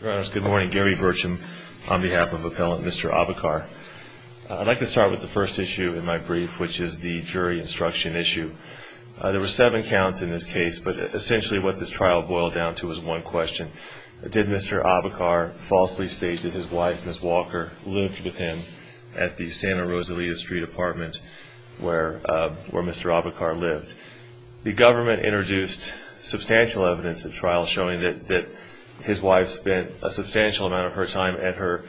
Your honors, good morning. Gary Burcham on behalf of Appellant Mr. Abakar. I'd like to start with the first issue in my brief, which is the jury instruction issue. There were seven counts in this case, but essentially what this trial boiled down to was one question. Did Mr. Abakar falsely state that his wife, Ms. Walker, lived with him at the Santa Rosalita Street apartment where Mr. Abakar lived? The government introduced substantial evidence at trial showing that his wife spent a substantial amount of her time at her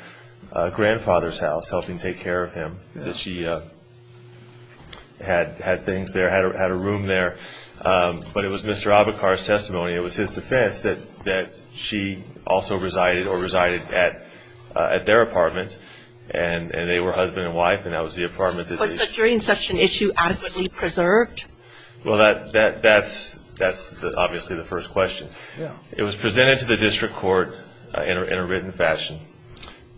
grandfather's house helping take care of him. That she had things there, had a room there. But it was Mr. Abakar's testimony, it was his defense, that she also resided or resided at their apartment. And they were husband and wife and that was the apartment that they... Well, that's obviously the first question. It was presented to the district court in a written fashion.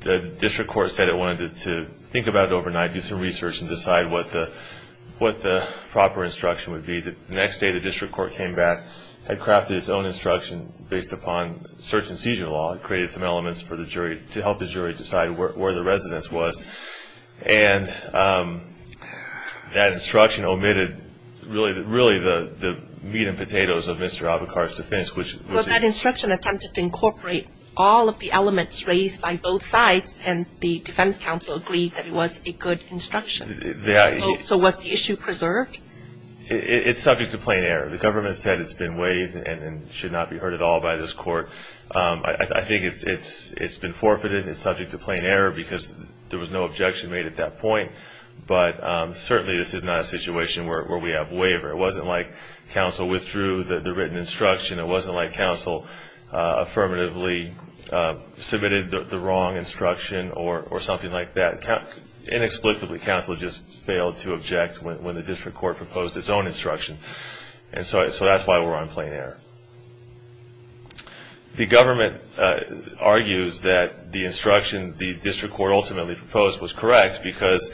The district court said it wanted to think about it overnight, do some research and decide what the proper instruction would be. The next day the district court came back, had crafted its own instruction based upon search and seizure law, created some elements to help the jury decide where the residence was. And that instruction omitted really the meat and potatoes of Mr. Abakar's defense. Well, that instruction attempted to incorporate all of the elements raised by both sides and the defense counsel agreed that it was a good instruction. So was the issue preserved? It's subject to plain error. The government said it's been waived and should not be heard at all by this court. I think it's been forfeited and it's subject to plain error because there was no objection made at that point. But certainly this is not a situation where we have waiver. It wasn't like counsel withdrew the written instruction. It wasn't like counsel affirmatively submitted the wrong instruction or something like that. Inexplicably counsel just failed to object when the district court proposed its own instruction. And so that's why we're on plain error. The government argues that the instruction the district court ultimately proposed was correct because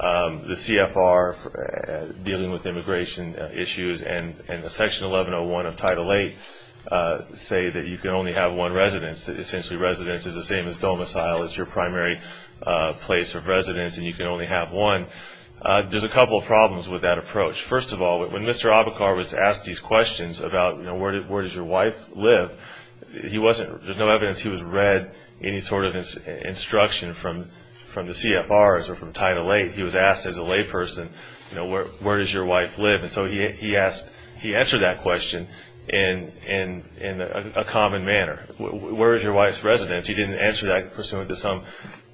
the CFR dealing with immigration issues and Section 1101 of Title VIII say that you can only have one residence. Essentially residence is the same as domicile. It's your primary place of residence and you can only have one. There's a couple of problems with that approach. First of all, when Mr. Abacar was asked these questions about where does your wife live, there's no evidence he was read any sort of instruction from the CFRs or from Title VIII. He was asked as a layperson where does your wife live. And so he answered that question in a common manner. Where is your wife's residence? He didn't answer that pursuant to some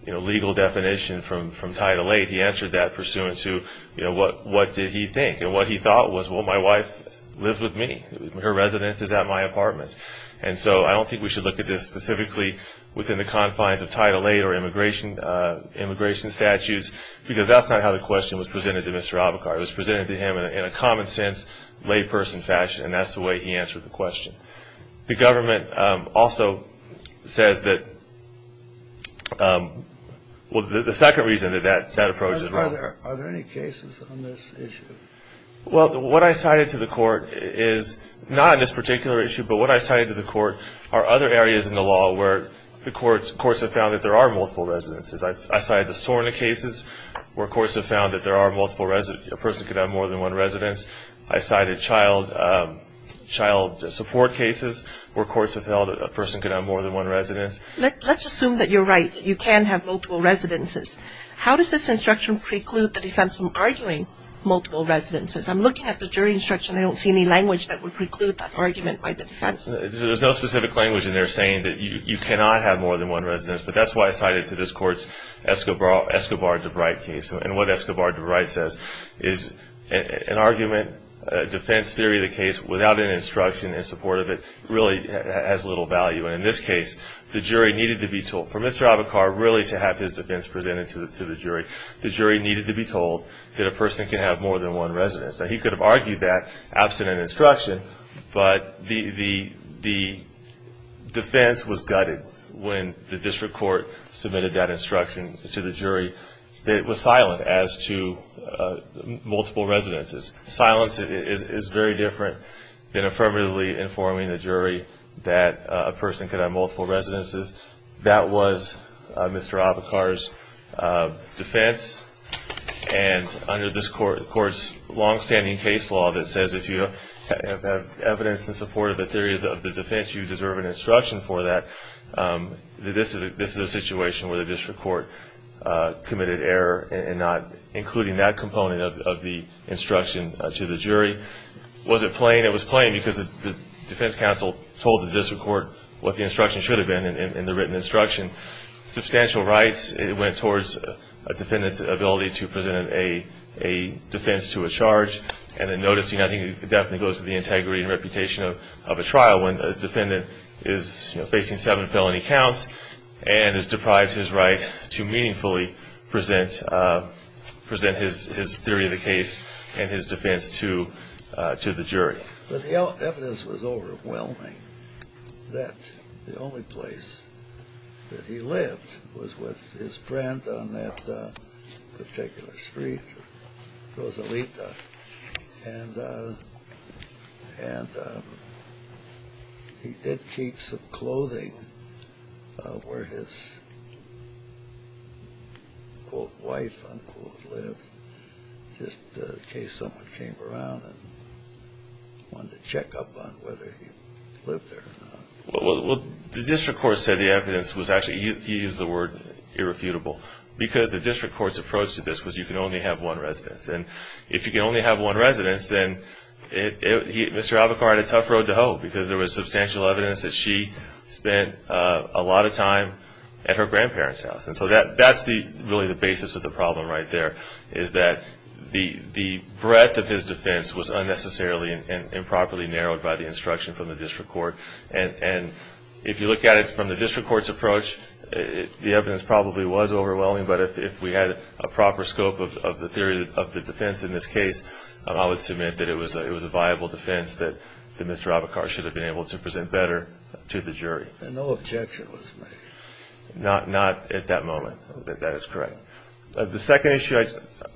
legal definition from Title VIII. He answered that pursuant to what did he think. And what he thought was, well, my wife lives with me. Her residence is at my apartment. And so I don't think we should look at this specifically within the confines of Title VIII or immigration statutes because that's not how the question was presented to Mr. Abacar. It was presented to him in a common sense layperson fashion, and that's the way he answered the question. The government also says that the second reason that that approach is wrong. Are there any cases on this issue? Well, what I cited to the court is not on this particular issue, but what I cited to the court are other areas in the law where the courts have found that there are multiple residences. I cited the SORNA cases where courts have found that a person could have more than one residence. I cited child support cases where courts have held that a person could have more than one residence. Let's assume that you're right, that you can have multiple residences. How does this instruction preclude the defense from arguing multiple residences? I'm looking at the jury instruction. I don't see any language that would preclude that argument by the defense. There's no specific language in there saying that you cannot have more than one residence, but that's why I cited to this court Escobar-DeBrite case. And what Escobar-DeBrite says is an argument, a defense theory of the case, without an instruction in support of it really has little value. And in this case, the jury needed to be told. For Mr. Abicar really to have his defense presented to the jury, the jury needed to be told that a person can have more than one residence. Now, he could have argued that absent an instruction, but the defense was gutted when the district court submitted that instruction to the jury. It was silent as to multiple residences. Silence is very different than affirmatively informing the jury that a person can have multiple residences. That was Mr. Abicar's defense. And under this court's longstanding case law that says if you have evidence in support of the theory of the defense, you deserve an instruction for that, this is a situation where the district court committed error in not including that component of the instruction to the jury. Was it plain? It was plain because the defense counsel told the district court what the instruction should have been in the written instruction. Substantial rights, it went towards a defendant's ability to present a defense to a charge. And then noticing, I think it definitely goes to the integrity and reputation of a trial when a defendant is facing seven felony counts and is deprived his right to meaningfully present his theory of the case and his defense to the jury. The evidence was overwhelming that the only place that he lived was with his friend on that particular street, Rosalita, and he did keep some clothing where his, quote, wife, unquote, lived just in case someone came around and wanted to check up on whether he lived there or not. Well, the district court said the evidence was actually, he used the word irrefutable because the district court's approach to this was you can only have one residence. And if you can only have one residence, then Mr. Abicar had a tough road to hoe because there was substantial evidence that she spent a lot of time at her grandparents' house. And so that's really the basis of the problem right there is that the breadth of his defense was unnecessarily and improperly narrowed by the instruction from the district court. And if you look at it from the district court's approach, the evidence probably was overwhelming. But if we had a proper scope of the theory of the defense in this case, I would submit that it was a viable defense that Mr. Abicar should have been able to present better to the jury. And no objection was made? Not at that moment. That is correct. The second issue I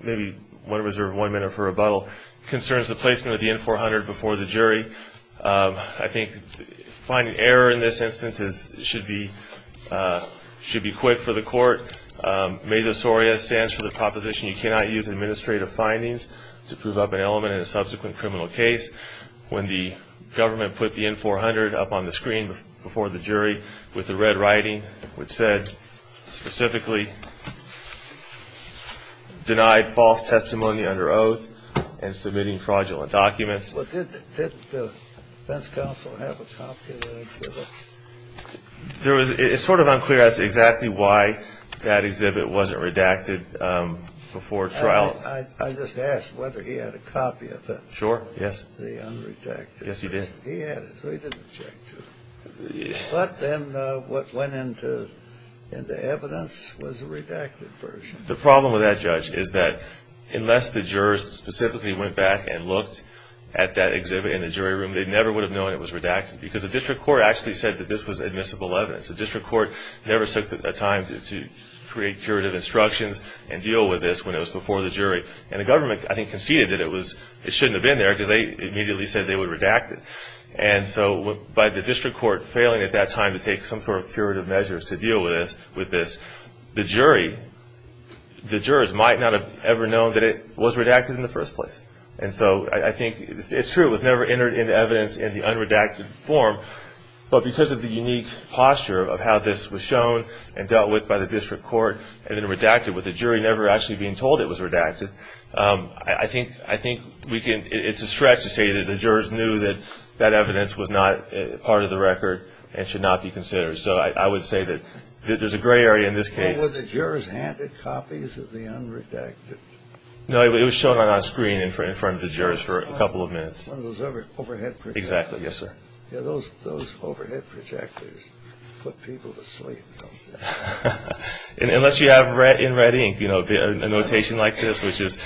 maybe want to reserve one minute for rebuttal concerns the placement of the N-400 before the jury. I think finding error in this instance should be quick for the court. MESA SORIA stands for the proposition you cannot use administrative findings to prove up an element in a subsequent criminal case. When the government put the N-400 up on the screen before the jury with the red writing which said specifically denied false testimony under oath and submitting fraudulent documents. Did the defense counsel have a copy of that exhibit? It's sort of unclear as to exactly why that exhibit wasn't redacted before trial. I just asked whether he had a copy of it. Sure, yes. The unredacted. Yes, he did. He had it, so he didn't object to it. But then what went into evidence was a redacted version. The problem with that, Judge, is that unless the jurors specifically went back and looked at that exhibit in the jury room, they never would have known it was redacted because the district court actually said that this was admissible evidence. The district court never took the time to create curative instructions and deal with this when it was before the jury. And the government, I think, conceded that it shouldn't have been there because they immediately said they would redact it. And so by the district court failing at that time to take some sort of curative measures to deal with this, the jurors might not have ever known that it was redacted in the first place. And so I think it's true it was never entered into evidence in the unredacted form, but because of the unique posture of how this was shown and dealt with by the district court and then redacted with the jury never actually being told it was redacted, I think it's a stretch to say that the jurors knew that that evidence was not part of the record and should not be considered. So I would say that there's a gray area in this case. Were the jurors handed copies of the unredacted? No, it was shown on screen in front of the jurors for a couple of minutes. One of those overhead projectors. Exactly, yes, sir. Yeah, those overhead projectors put people to sleep. Unless you have in red ink, you know, a notation like this, which was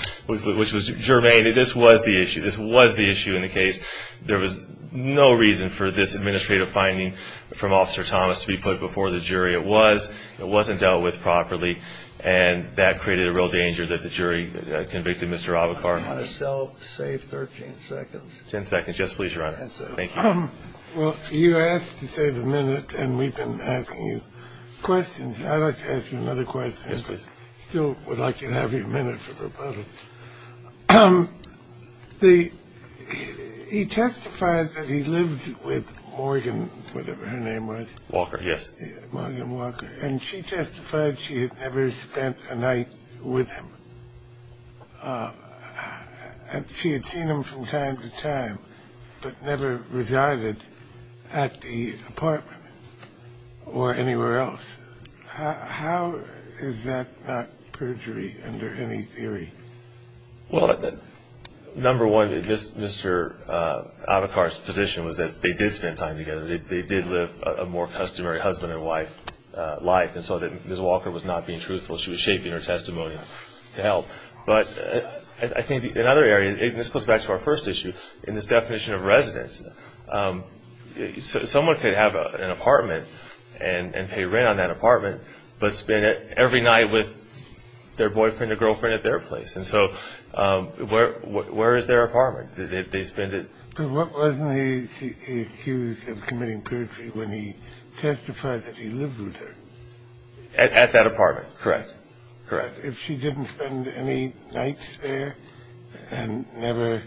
germane. This was the issue. This was the issue in the case. There was no reason for this administrative finding from Officer Thomas to be put before the jury. It was. It wasn't dealt with properly, and that created a real danger that the jury convicted Mr. Avocar. I want to save 13 seconds. Ten seconds. Yes, please, Your Honor. Thank you. Well, you asked to save a minute, and we've been asking you questions. I'd like to ask you another question. Yes, please. Still would like to have you a minute for the rebuttal. He testified that he lived with Morgan, whatever her name was. Walker, yes. Morgan Walker. And she testified she had never spent a night with him. She had seen him from time to time but never resided at the apartment or anywhere else. How is that not perjury under any theory? Well, number one, Mr. Avocar's position was that they did spend time together. They did live a more customary husband and wife life, and so that Ms. Walker was not being truthful. She was shaping her testimony to help. But I think in other areas, and this goes back to our first issue, in this definition of residence, someone could have an apartment and pay rent on that apartment but spend every night with their boyfriend or girlfriend at their place. And so where is their apartment? Did they spend it? But wasn't he accused of committing perjury when he testified that he lived with her? At that apartment. Correct. Correct. If she didn't spend any nights there and never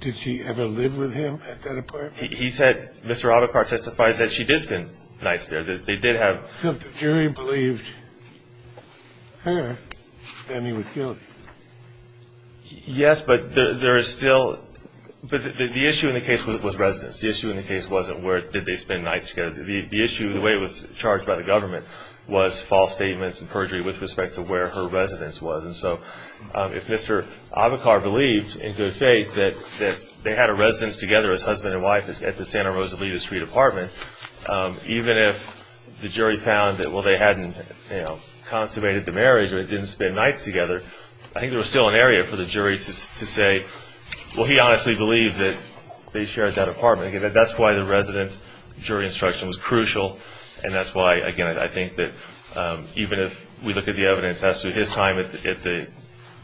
did she ever live with him at that apartment? He said Mr. Avocar testified that she did spend nights there. They did have. If the jury believed her, then he was guilty. Yes, but there is still. But the issue in the case was residence. The issue in the case wasn't where did they spend nights together. The issue, the way it was charged by the government, was false statements and perjury with respect to where her residence was. And so if Mr. Avocar believed in good faith that they had a residence together, his husband and wife, at the Santa Rosalita Street apartment, even if the jury found that, well, they hadn't consummated the marriage or they didn't spend nights together, I think there was still an area for the jury to say, well, he honestly believed that they shared that apartment. That's why the residence jury instruction was crucial. And that's why, again, I think that even if we look at the evidence as to his time at the,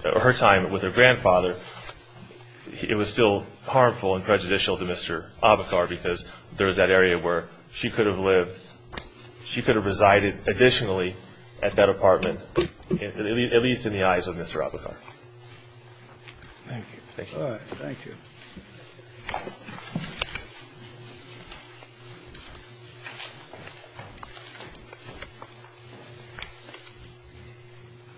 her time with her grandfather, it was still harmful and prejudicial to Mr. Avocar because there was that area where she could have lived, she could have resided additionally at that apartment, at least in the eyes of Mr. Avocar. Thank you. All right. Thank you.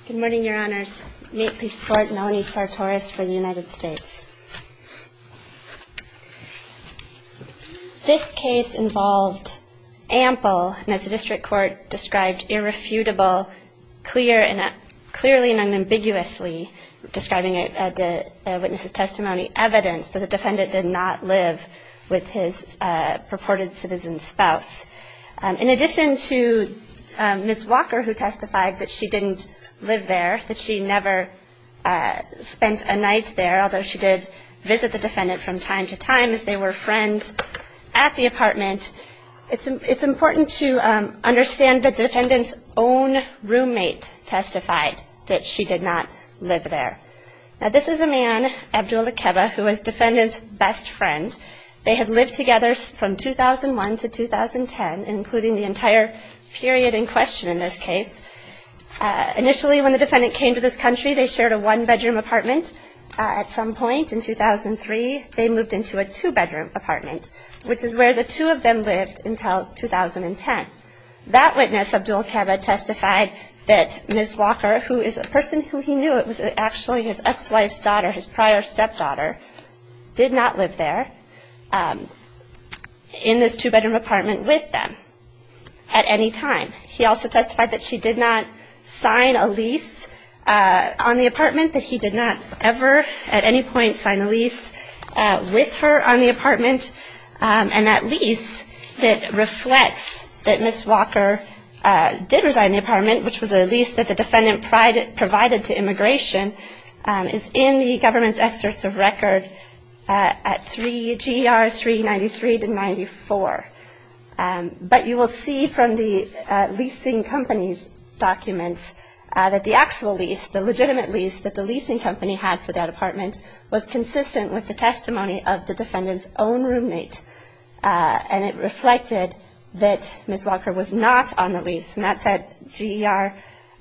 Good morning, Your Honors. May it please the Court. Melanie Sartoris for the United States. This case involved ample, and as the district court described, irrefutable, clear and clearly and unambiguously, describing it at the witness's testimony, evidence, that the defendant did not live with his purported citizen spouse. In addition to Ms. Walker, who testified that she didn't live there, that she never spent a night there, although she did visit the defendant from time to time as they were friends at the apartment, it's important to understand that the defendant's own roommate testified that she did not live there. Now, this is a man, Abdul Akeba, who was defendant's best friend. They had lived together from 2001 to 2010, including the entire period in question in this case. Initially, when the defendant came to this country, they shared a one-bedroom apartment. At some point in 2003, they moved into a two-bedroom apartment, which is where the two of them lived until 2010. That witness, Abdul Akeba, testified that Ms. Walker, who is a person who he knew was actually his ex-wife's daughter, his prior stepdaughter, did not live there in this two-bedroom apartment with them at any time. He also testified that she did not sign a lease on the apartment, that he did not ever at any point sign a lease with her on the apartment, and that lease reflects that Ms. Walker did resign the apartment, which was a lease that the defendant provided to immigration, is in the government's excerpts of record at 3GR 393-94. But you will see from the leasing company's documents that the actual lease, the legitimate lease that the leasing company had for that apartment, was consistent with the testimony of the defendant's own roommate, and it reflected that Ms. Walker was not on the lease. And that's at 3GR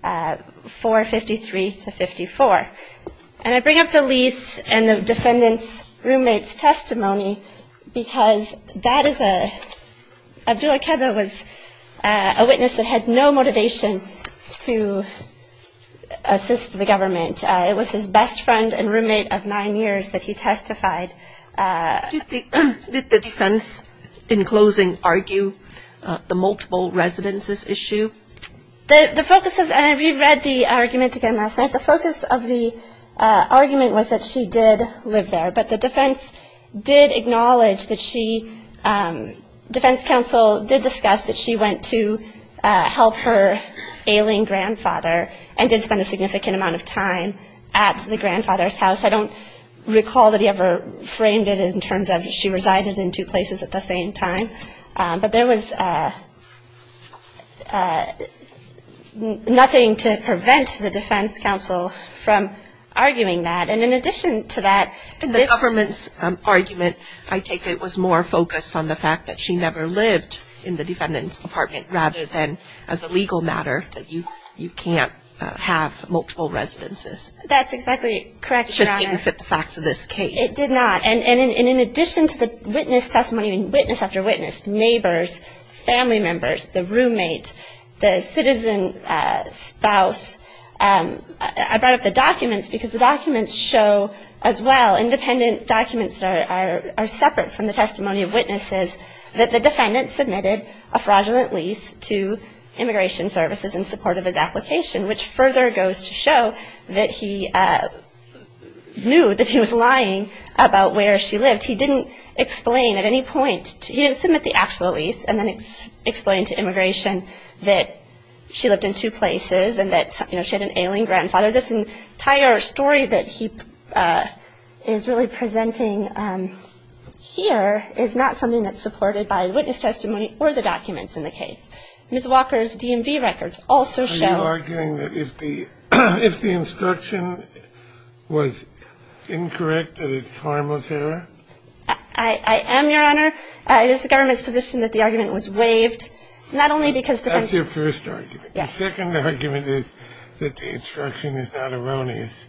453-54. And I bring up the lease and the defendant's roommate's testimony because that is a – Abdul Akeba was a witness that had no motivation to assist the government. It was his best friend and roommate of nine years that he testified. Did the defense, in closing, argue the multiple residences issue? The focus of – and we read the argument again last night. The focus of the argument was that she did live there, but the defense did acknowledge that she – defense counsel did discuss that she went to help her ailing grandfather and did spend a significant amount of time at the grandfather's house. I don't recall that he ever framed it in terms of she resided in two places at the same time. But there was nothing to prevent the defense counsel from arguing that. And in addition to that, this – The government's argument, I take it, was more focused on the fact that she never lived in the defendant's apartment rather than as a legal matter that you can't have multiple residences. That's exactly correct, Your Honor. It just didn't fit the facts of this case. It did not. And in addition to the witness testimony and witness after witness, neighbors, family members, the roommate, the citizen spouse, I brought up the documents because the documents show as well, independent documents are separate from the testimony of witnesses, that the defendant submitted a fraudulent lease to Immigration Services in support of his application, which further goes to show that he knew that he was lying about where she lived. He didn't explain at any point. He didn't submit the actual lease and then explain to Immigration that she lived in two places and that she had an ailing grandfather. This entire story that he is really presenting here is not something that's supported by witness testimony or the documents in the case. Ms. Walker's DMV records also show. Are you arguing that if the instruction was incorrect, that it's a harmless error? I am, Your Honor. It is the government's position that the argument was waived, not only because defense. That's your first argument. Yes. The second argument is that the instruction is not erroneous.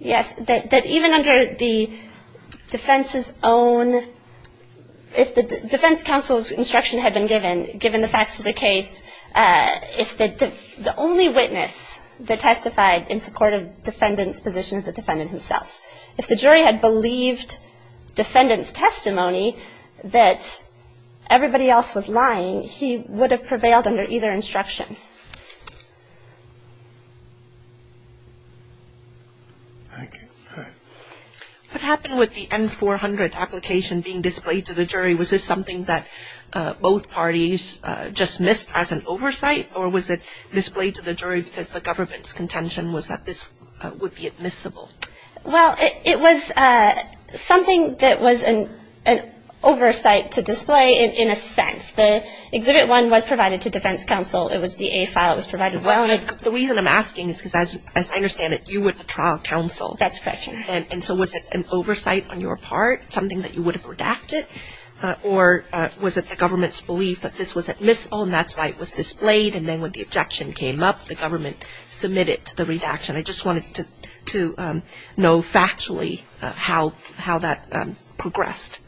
Yes, that even under the defense's own, if the defense counsel's instruction had been given, given the facts of the case, if the only witness that testified in support of defendant's position is the defendant himself, if the jury had believed defendant's testimony that everybody else was lying, he would have prevailed under either instruction. Thank you. What happened with the N-400 application being displayed to the jury? Was this something that both parties just missed as an oversight, or was it displayed to the jury because the government's contention was that this would be admissible? Well, it was something that was an oversight to display in a sense. The Exhibit 1 was provided to defense counsel. It was the A file that was provided. Well, the reason I'm asking is because as I understand it, you were the trial counsel. That's correct, Your Honor. And so was it an oversight on your part, something that you would have redacted, or was it the government's belief that this was admissible and that's why it was displayed, and then when the objection came up, the government submitted to the redaction? I just wanted to know factually how that progressed.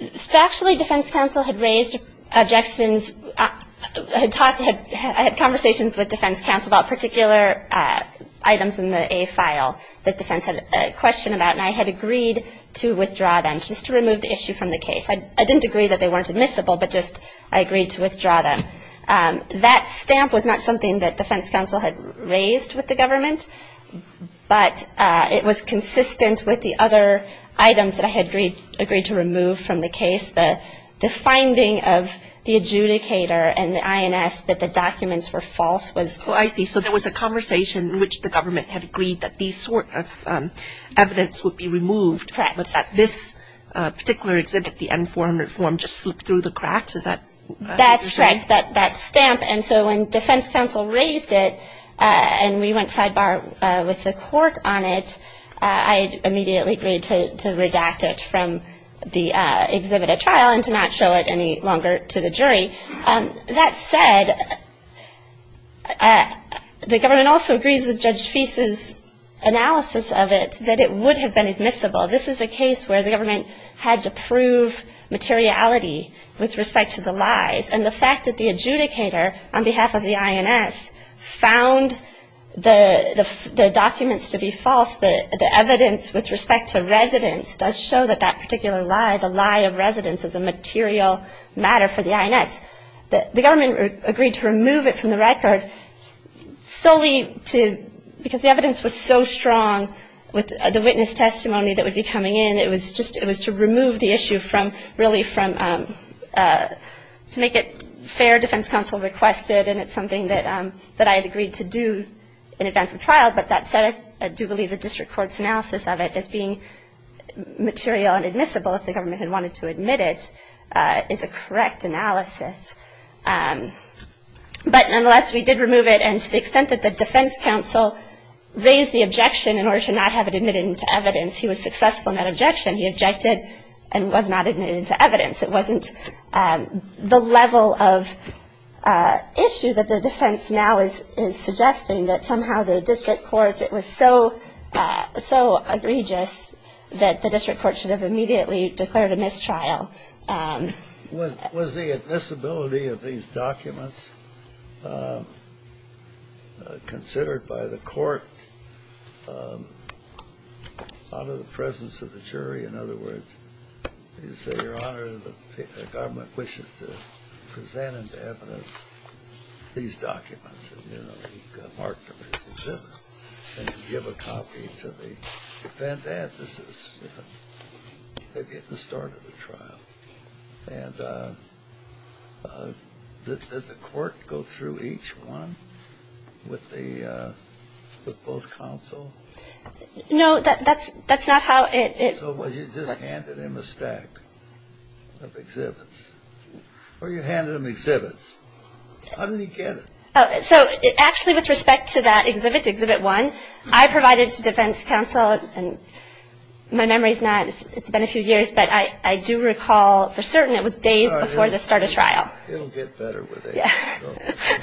Factually, defense counsel had raised objections. I had conversations with defense counsel about particular items in the A file that defense had a question about, and I had agreed to withdraw them just to remove the issue from the case. I didn't agree that they weren't admissible, but just I agreed to withdraw them. That stamp was not something that defense counsel had raised with the government, but it was consistent with the other items that I had agreed to remove from the case. The finding of the adjudicator and the INS that the documents were false was. Oh, I see. So there was a conversation in which the government had agreed that these sort of evidence would be removed. Correct. Was that this particular exhibit, the N-400 form, just slipped through the cracks? Is that? That's correct, that stamp. And so when defense counsel raised it, and we went sidebar with the court on it, I immediately agreed to redact it from the exhibited trial and to not show it any longer to the jury. That said, the government also agrees with Judge Feist's analysis of it that it would have been admissible. This is a case where the government had to prove materiality with respect to the lies, and the fact that the adjudicator, on behalf of the INS, found the documents to be false, the evidence with respect to residence, does show that that particular lie, the lie of residence is a material matter for the INS. The government agreed to remove it from the record solely to, because the evidence was so strong with the witness testimony that would be coming in, it was just, it was to remove the issue from, really from, to make it fair. Defense counsel requested, and it's something that I had agreed to do in advance of trial, but that said, I do believe the district court's analysis of it as being material and admissible, if the government had wanted to admit it, is a correct analysis. But nonetheless, we did remove it, and to the extent that the defense counsel raised the objection in order to not have it admitted into evidence, he was successful in that objection. He objected and was not admitted into evidence. It wasn't the level of issue that the defense now is suggesting, that somehow the district court, it was so, so egregious that the district court should have immediately declared a mistrial. Well, was the admissibility of these documents considered by the court out of the presence of the jury? In other words, you say, Your Honor, the government wishes to present into evidence these documents, and, you know, he marked them as admissible, and give a copy to the defense. And this is, you know, they're getting the start of the trial. And did the court go through each one with both counsel? No, that's not how it was. So you just handed him a stack of exhibits. Or you handed him exhibits. How did he get it? So actually, with respect to that exhibit, exhibit one, I provided to defense counsel, and my memory is not, it's been a few years, but I do recall for certain it was days before the start of trial. It'll get better with age.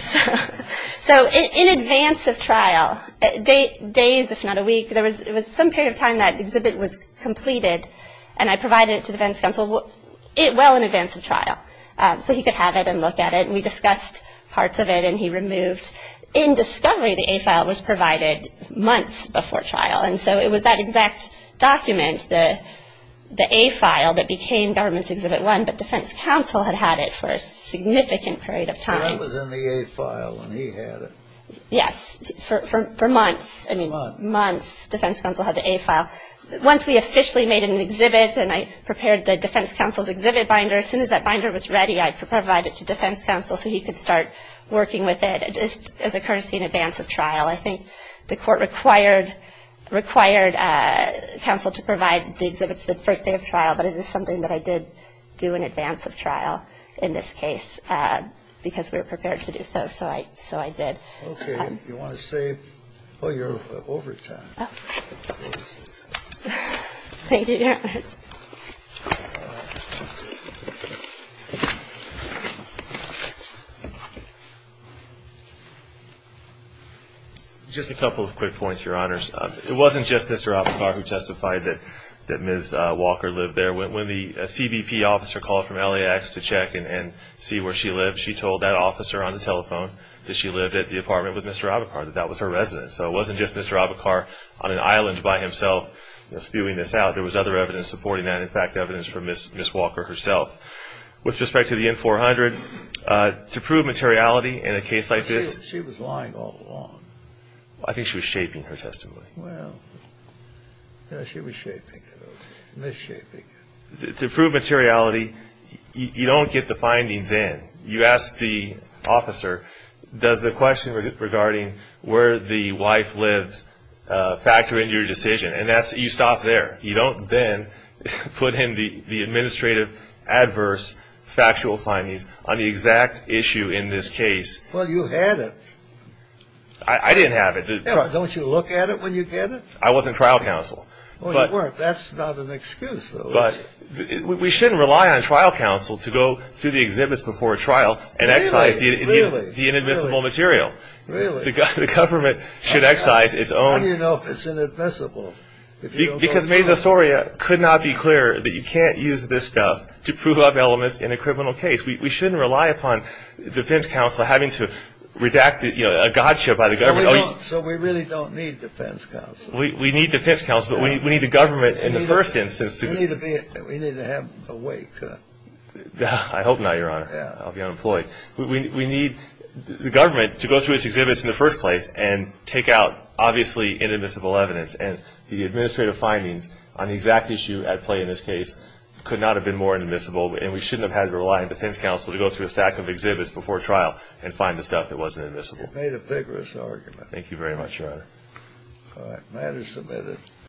So in advance of trial, days if not a week, there was some period of time that exhibit was completed, and I provided it to defense counsel well in advance of trial so he could have it and look at it. And we discussed parts of it, and he removed. In discovery, the A file was provided months before trial. And so it was that exact document, the A file, that became government's exhibit one, but defense counsel had had it for a significant period of time. So that was in the A file when he had it. Yes, for months. I mean, months defense counsel had the A file. Once we officially made an exhibit and I prepared the defense counsel's exhibit binder, as soon as that binder was ready, I provided it to defense counsel so he could start working with it, just as a courtesy in advance of trial. I think the court required counsel to provide the exhibits the first day of trial, but it is something that I did do in advance of trial in this case because we were prepared to do so, so I did. Okay. You want to save your overtime. Thank you, Your Honors. Just a couple of quick points, Your Honors. It wasn't just Mr. Abacar who testified that Ms. Walker lived there. When the CBP officer called from LAX to check and see where she lived, she told that officer on the telephone that she lived at the apartment with Mr. Abacar, that that was her residence. So it wasn't just Mr. Abacar on an island by himself spewing this out. There was other evidence supporting that, in fact, evidence from Ms. Walker herself. With respect to the N-400, to prove materiality in a case like this. She was lying all along. I think she was shaping her testimony. Well, yeah, she was shaping it, okay, misshaping it. To prove materiality, you don't get the findings in. You ask the officer, does the question regarding where the wife lives factor into your decision, and you stop there. You don't then put in the administrative adverse factual findings on the exact issue in this case. Well, you had it. I didn't have it. Don't you look at it when you get it? I wasn't trial counsel. Well, you weren't. That's not an excuse, though. We shouldn't rely on trial counsel to go through the exhibits before a trial and excise the inadmissible material. Really? The government should excise its own. How do you know if it's inadmissible? Because Mesa Soria could not be clearer that you can't use this stuff to prove up elements in a criminal case. We shouldn't rely upon defense counsel having to redact a gotcha by the government. So we really don't need defense counsel. We need defense counsel, but we need the government in the first instance. We need to have a way cut. I hope not, Your Honor. I'll be unemployed. We need the government to go through its exhibits in the first place and take out, obviously, inadmissible evidence, and the administrative findings on the exact issue at play in this case could not have been more inadmissible, and we shouldn't have had to rely on defense counsel to go through a stack of exhibits before a trial and find the stuff that wasn't inadmissible. You've made a vigorous argument. Thank you very much, Your Honor. All right, matter submitted.